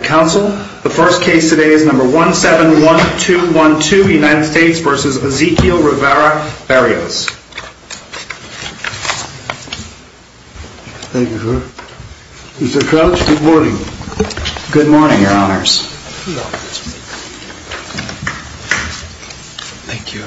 Council, the first case today is number 171212, United States v. Ezequiel Rivera-Berrios. Thank you, sir. Mr. Crouch, good morning. Good morning, Your Honors. Thank you.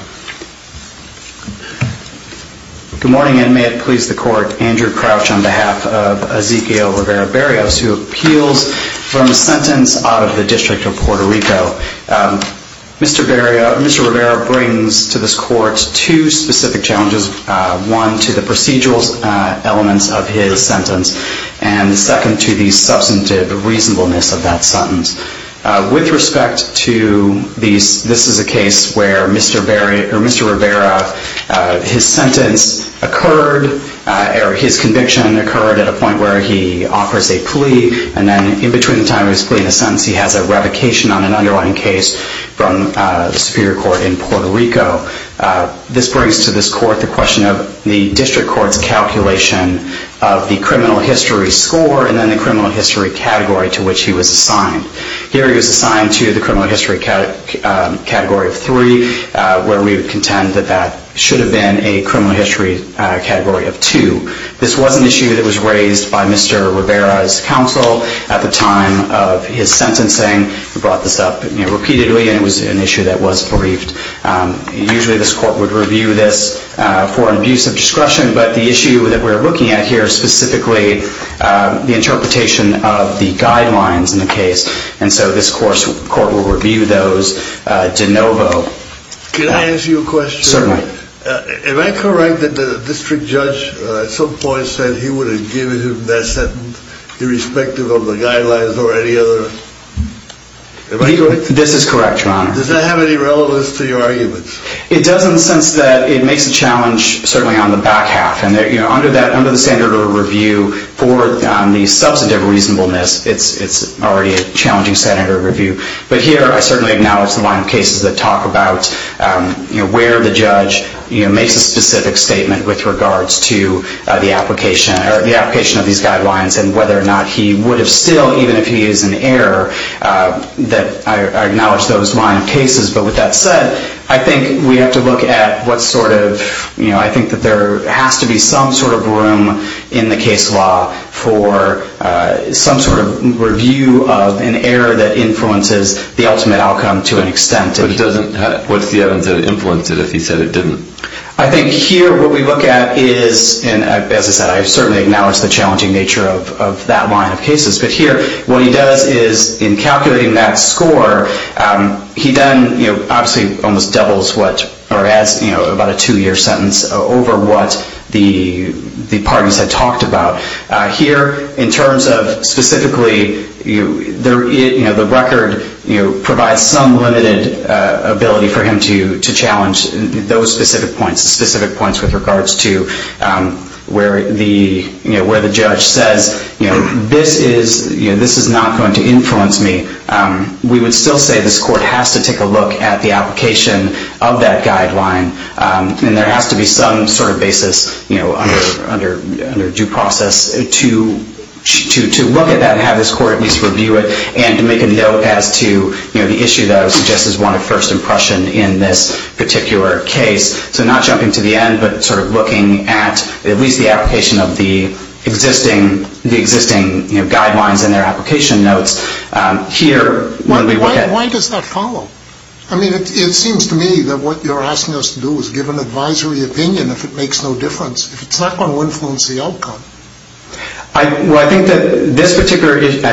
Good morning, and may it please the Court, Andrew Crouch on behalf of Ezequiel Rivera-Berrios, who appeals from a sentence out of the District of Puerto Rico. Mr. Rivera brings to this Court two specific challenges, one to the procedural elements of his sentence, and second to the substantive reasonableness of that sentence. With respect to these, this is a case where Mr. Rivera, his sentence occurred, or his conviction occurred at a point where he offers a plea, and then in between the time of his plea and his sentence, he has a revocation on an underlying case from the Superior Court in Puerto Rico. This brings to this Court the question of the District Court's calculation of the criminal history score and then the criminal history category to which he was assigned. Here he was assigned to the criminal history category of three, where we would contend that that should have been a criminal history category of two. This was an issue that was raised by Mr. Rivera's counsel at the time of his sentencing. He brought this up repeatedly, and it was an issue that was briefed. Usually this Court would review this for an abuse of discretion, but the issue that we're looking at here is specifically the interpretation of the guidelines in the case, and so this Court will review those de novo. Can I ask you a question? Certainly. Am I correct that the District Judge at some point said he would have given him that sentence irrespective of the guidelines or any other? This is correct, Your Honor. Does that have any relevance to your arguments? It does in the sense that it makes a challenge certainly on the back half, and under the standard of review for the substantive reasonableness, it's already a challenging standard of review. But here I certainly acknowledge the line of cases that talk about where the judge makes a specific statement with regards to the application of these guidelines and whether or not he would have still, even if he is an error, that I acknowledge those line of cases. But with that said, I think we have to look at what sort of, I think that there has to be some sort of room in the case law for some sort of review of an error that influences the ultimate outcome to an extent. But it doesn't, what's the evidence that influenced it if he said it didn't? I think here what we look at is, and as I said, I certainly acknowledge the challenging nature of that line of cases, but here what he does is in calculating that score, he then obviously almost doubles what, or adds about a two-year sentence over what the parties had talked about. Here in terms of specifically, the record provides some limited ability for him to challenge those specific points, specific points with regards to where the judge says, this is not going to influence me. We would still say this court has to take a look at the application of that guideline, and there has to be some sort of basis under due process to look at that and have this court at least review it and to make a note as to the issue that I would suggest is one of first impression in this particular case. So not jumping to the end, but sort of looking at at least the application of the existing guidelines and their application notes here. Why does that follow? I mean, it seems to me that what you're asking us to do is give an advisory opinion if it makes no difference, if it's not going to influence the outcome. I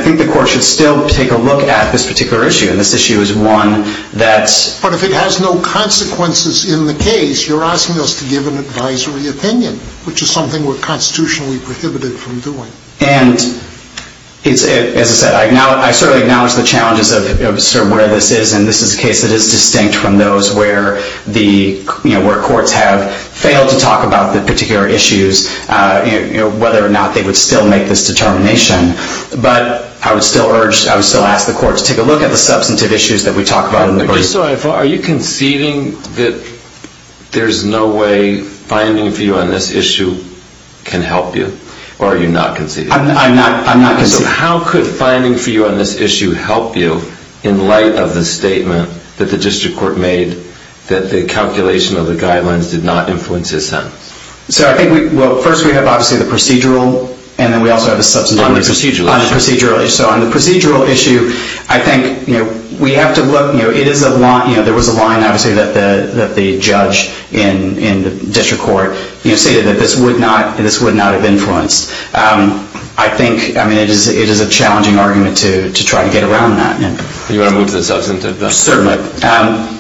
think the court should still take a look at this particular issue, and this issue is one that's... But if it has no consequences in the case, you're asking us to give an advisory opinion, which is something we're constitutionally prohibited from doing. And as I said, I certainly acknowledge the challenges of sort of where this is, and this is a case that is distinct from those where courts have failed to talk about the particular issues, whether or not they would still make this determination. But I would still urge, I would still ask the court to take a look at the substantive issues that we talk about. But just so I follow, are you conceding that there's no way finding a view on this issue can help you, or are you not conceding? I'm not conceding. So how could finding for you on this issue help you in light of the statement that the district court made that the calculation of the guidelines did not influence his sentence? So I think we... Well, first we have obviously the procedural, and then we also have a substantive issue. On the procedural issue. On the procedural issue. So on the procedural issue, I think we have to look... There was a line, obviously, that the judge in the district court stated that this would not have influenced. I think, I mean, it is a challenging argument to try to get around that. You want to move to the substantive? Certainly.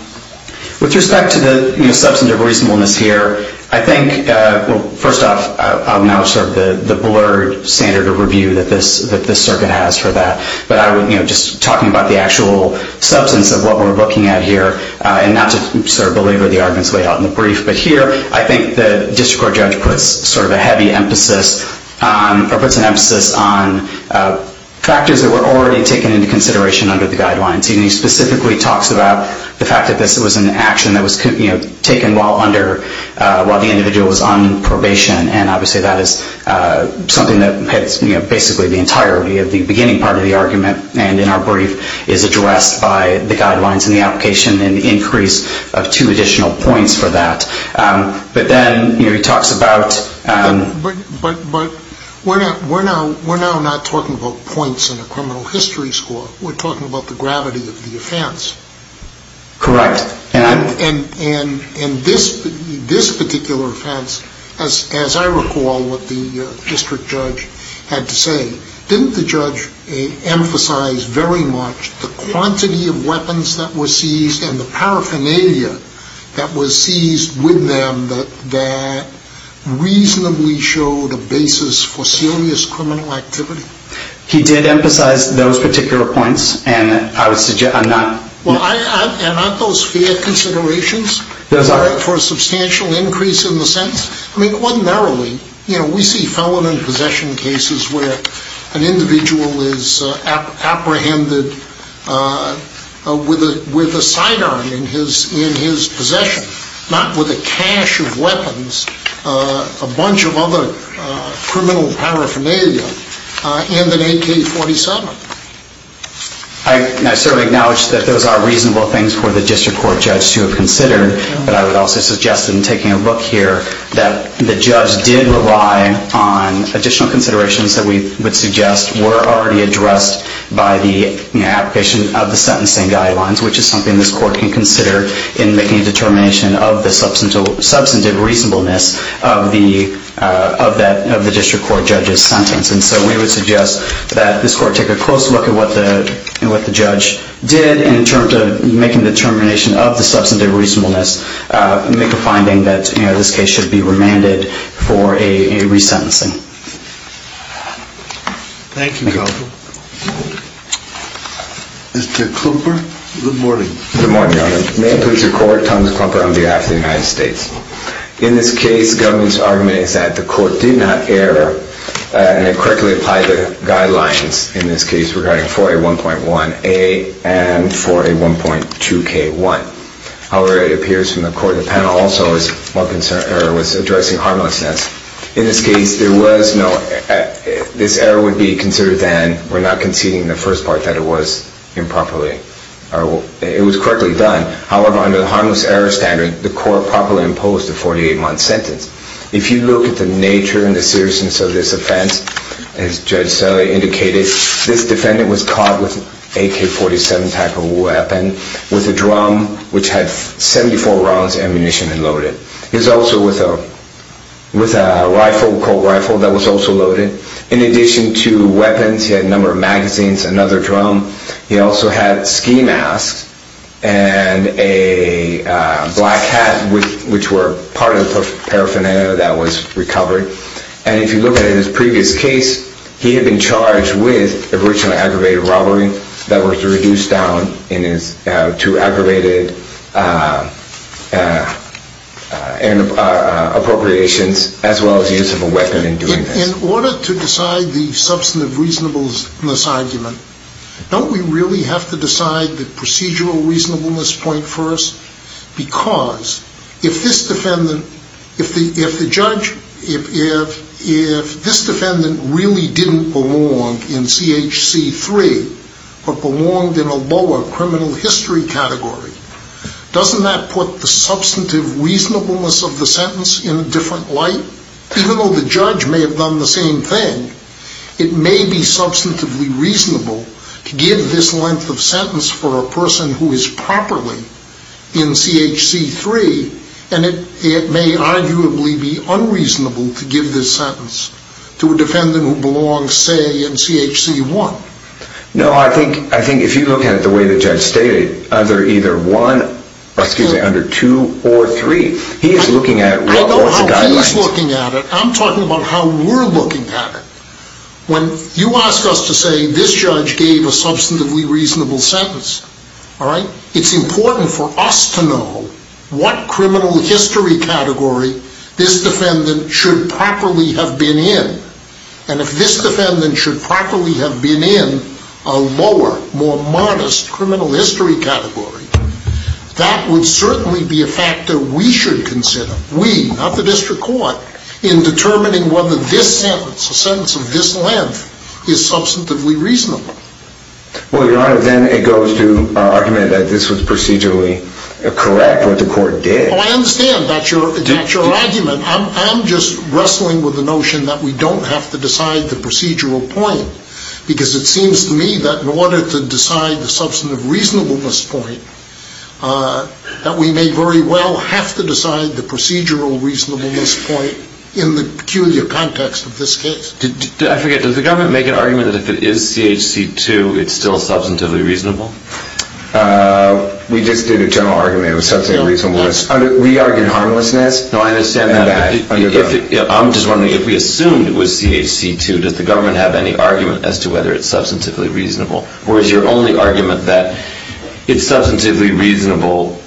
With respect to the substantive reasonableness here, I think, well, first off, I'll now assert the blurred standard of review that this circuit has for that. But I would, you know, just talking about the actual substance of what we're looking at here, and not to belabor the arguments laid out in the brief, but here, I think the judge puts sort of a heavy emphasis on, or puts an emphasis on, factors that were already taken into consideration under the guidelines. He specifically talks about the fact that this was an action that was taken while under, while the individual was on probation, and obviously that is something that hits basically the entirety of the beginning part of the argument, and in our brief, is addressed by the guidelines and the application, and the increase of two additional points for that. But then, you know, he talks about... But, but, but, we're now, we're now, we're now not talking about points in a criminal history score. We're talking about the gravity of the offense. Correct. And, and, and, and this, this particular offense, as, as I recall what the district judge had to say, didn't the judge emphasize very much the quantity of weapons that were seized and the paraphernalia that was seized with them that, that reasonably showed a basis for serious criminal activity? He did emphasize those particular points, and I would suggest, I'm not... Well, I, I, and aren't those fair considerations? Those are. For a substantial increase in the sentence? I mean, ordinarily, you know, we see felon and possession cases where an individual is apprehended with a, with a sidearm in his, in his possession, not with a cache of weapons, a bunch of other criminal paraphernalia, and an AK-47. I certainly acknowledge that those are reasonable things for the district court judge to have considered, but I would also suggest in taking a look here that the judge did rely on additional considerations that we would suggest were already addressed by the, you know, application of the sentencing guidelines, which is something this court can consider in making a determination of the substantive reasonableness of the, of that, of the district court judge's sentence. And so we would suggest that this court take a close look at what the, what the judge did in terms of making a determination of the substantive reasonableness, make a finding that, you know, this case should be remanded for a, a resentencing. Thank you. Mr. Klumper. Good morning. Good morning, Your Honor. May it please the court, Thomas Klumper on behalf of the United States. In this case, the government's argument is that the court did not err, and it correctly applied the guidelines in this case regarding 4A1.1A and 4A1.2K1. However, it appears from the court of the panel also as one concern error was addressing harmlessness. In this case, there was no, this error would be considered then, we're not conceding the first part that it was improperly, or it was correctly done. However, under the harmless error standard, the court properly imposed a 48-month sentence. If you look at the nature and the seriousness of this offense, as Judge Selle indicated, this defendant was caught with an AK-47 type of weapon, with a drum, which had 74 rounds ammunition loaded. He was also with a, with a rifle, cold rifle that was also loaded. In addition to weapons, he had a number of magazines, another drum. He also had ski masks and a black hat, which were part of the paraphernalia that was recovered. And if you look at his previous case, he had been charged with originally aggravated robbery that was reduced down in his, to aggravated appropriations, as well as the use of a weapon in doing this. In order to decide the substantive reasonableness argument, don't we really have to decide the procedural reasonableness point first? Because if this defendant, if the judge, if this defendant really didn't belong in CHC 3, but belonged in a lower criminal history category, doesn't that put the substantive reasonableness of the sentence in a different light? Even though the judge may have done the same thing, it may be substantively reasonable to give this length of sentence for a person who is properly in CHC 3, and it, it may arguably be unreasonable to give this sentence to a defendant who belongs, say, in CHC 1. No, I think, I think if you look at it the way the judge stated, either 1, excuse me, under 2 or 3, he is looking at what are the guidelines. I don't know how he's looking at it, I'm talking about how we're looking at it. When you ask us to say this judge gave a substantively reasonable sentence, all right, it's important for us to know what criminal history category this defendant should properly have been in. And if this defendant should properly have been in a lower, more modest criminal history category, that would certainly be a factor we should consider, we, not the district court, in determining whether this sentence, a sentence of this length, is substantively reasonable. Well, Your Honor, then it goes to argument that this was procedurally correct, what the court did. Oh, I understand, that's your, that's your argument, I'm, I'm just wrestling with the notion that we don't have to decide the procedural point, because it seems to me that in order to decide the substantive reasonableness point, that we may very well have to decide the procedural reasonableness point in the peculiar context of this case. Did, I forget, does the government make an argument that if it is CHC 2, it's still substantively reasonable? Uh, we just did a general argument, it was substantively reasonable. We argued harmlessness. No, I understand that, I'm just wondering, if we assumed it was CHC 2, does the government have any argument as to whether it's substantively reasonable, or is your only argument that it's substantively reasonable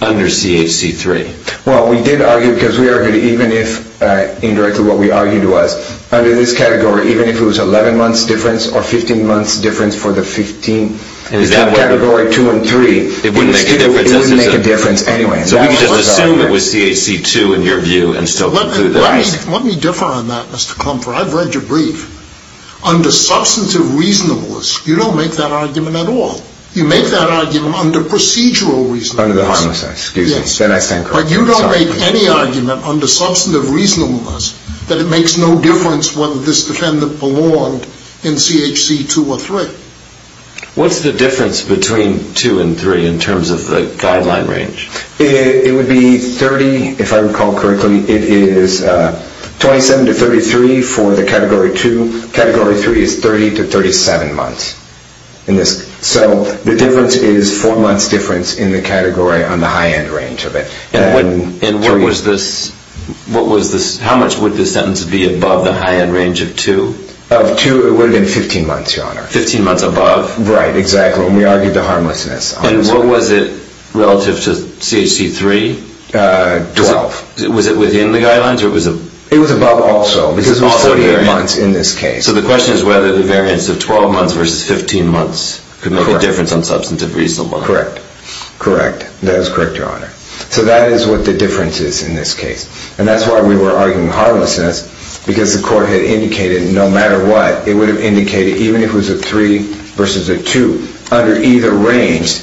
under CHC 3? Well, we did argue, because we argued, even if, uh, indirectly what we argued was, under this category, even if it was 11 months difference, or 15 months difference for the 15, between category 2 and 3, it wouldn't make a difference anyway. So we just assumed it was CHC 2 in your view, and still conclude that it's... Let me, let me differ on that, Mr. Klumpfer, I've read your brief. Under substantive reasonableness, you don't make that argument at all. You make that argument under procedural reasonableness. Under the harmlessness, excuse me. Then I stand corrected. But you don't make any argument under substantive reasonableness that it makes no difference whether this defendant belonged in CHC 2 or 3. What's the difference between 2 and 3 in terms of the guideline range? It would be 30, if I recall correctly, it is, uh, 27 to 33 for the category 2. Category 3 is 30 to 37 months in this. So the difference is 4 months difference in the category on the high-end range of it. And what was this, what was this, how much would this sentence be above the high-end range of 2? Of 2, it would have been 15 months, Your Honor. 15 months above? Right, exactly. When we argued the harmlessness. And what was it relative to CHC 3? Uh, 12. Was it within the guidelines, or was it... It was above also, because it was 48 months in this case. So the question is whether the variance of 12 months versus 15 months could make a difference on substantive reasonableness. Correct. Correct. That is correct, Your Honor. So that is what the difference is in this case. And that's why we were arguing the harmlessness, because the court had indicated no matter what, it would have indicated even if it was a 3 versus a 2, under either range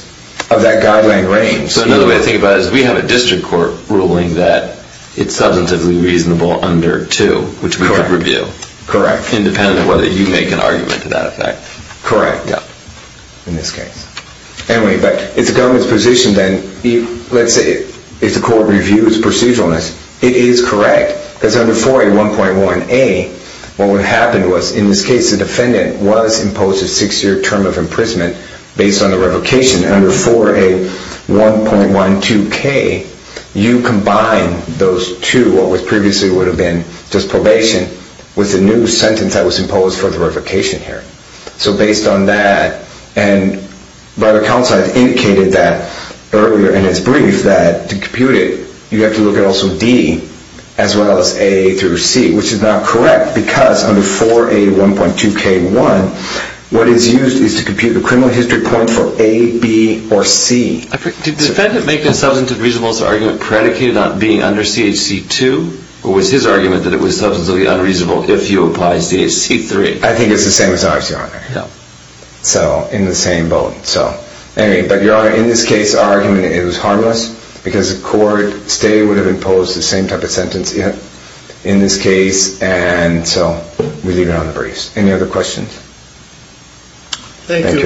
of that guideline range. So another way to think about it is we have a district court ruling that it's substantively reasonable under 2, which we could review. Correct. Independent of whether you make an argument to that effect. Correct. Yeah. In this case. Anyway, but if the government's position then, let's say if the court reviews proceduralness, it is correct, because under 4A 1.1a, what would have happened was, in this case, the defendant was imposed a 6-year term of imprisonment based on the revocation. Under 4A 1.12k, you combine those two, what previously would have been just probation, with a new sentence that was imposed for the revocation here. So based on that, and by the counsel I've indicated that earlier in his brief, that to compute it, you have to look at also D, as well as A through C, which is not correct, because under 4A 1.2k 1, what is used is to compute the criminal history point for A, B, or C. Did the defendant make a substantive reasonableness argument predicated on being under CHC 2, or was his argument that it was substantively unreasonable if he applies CHC 3? I think it's the same as ours, Your Honor. So in the same boat. So anyway, but Your Honor, in this case, our argument is harmless, because the court stay would have imposed the same type of sentence in this case, and so we leave it on the briefs. Thank you. Thank you, Your Honor. Thank you.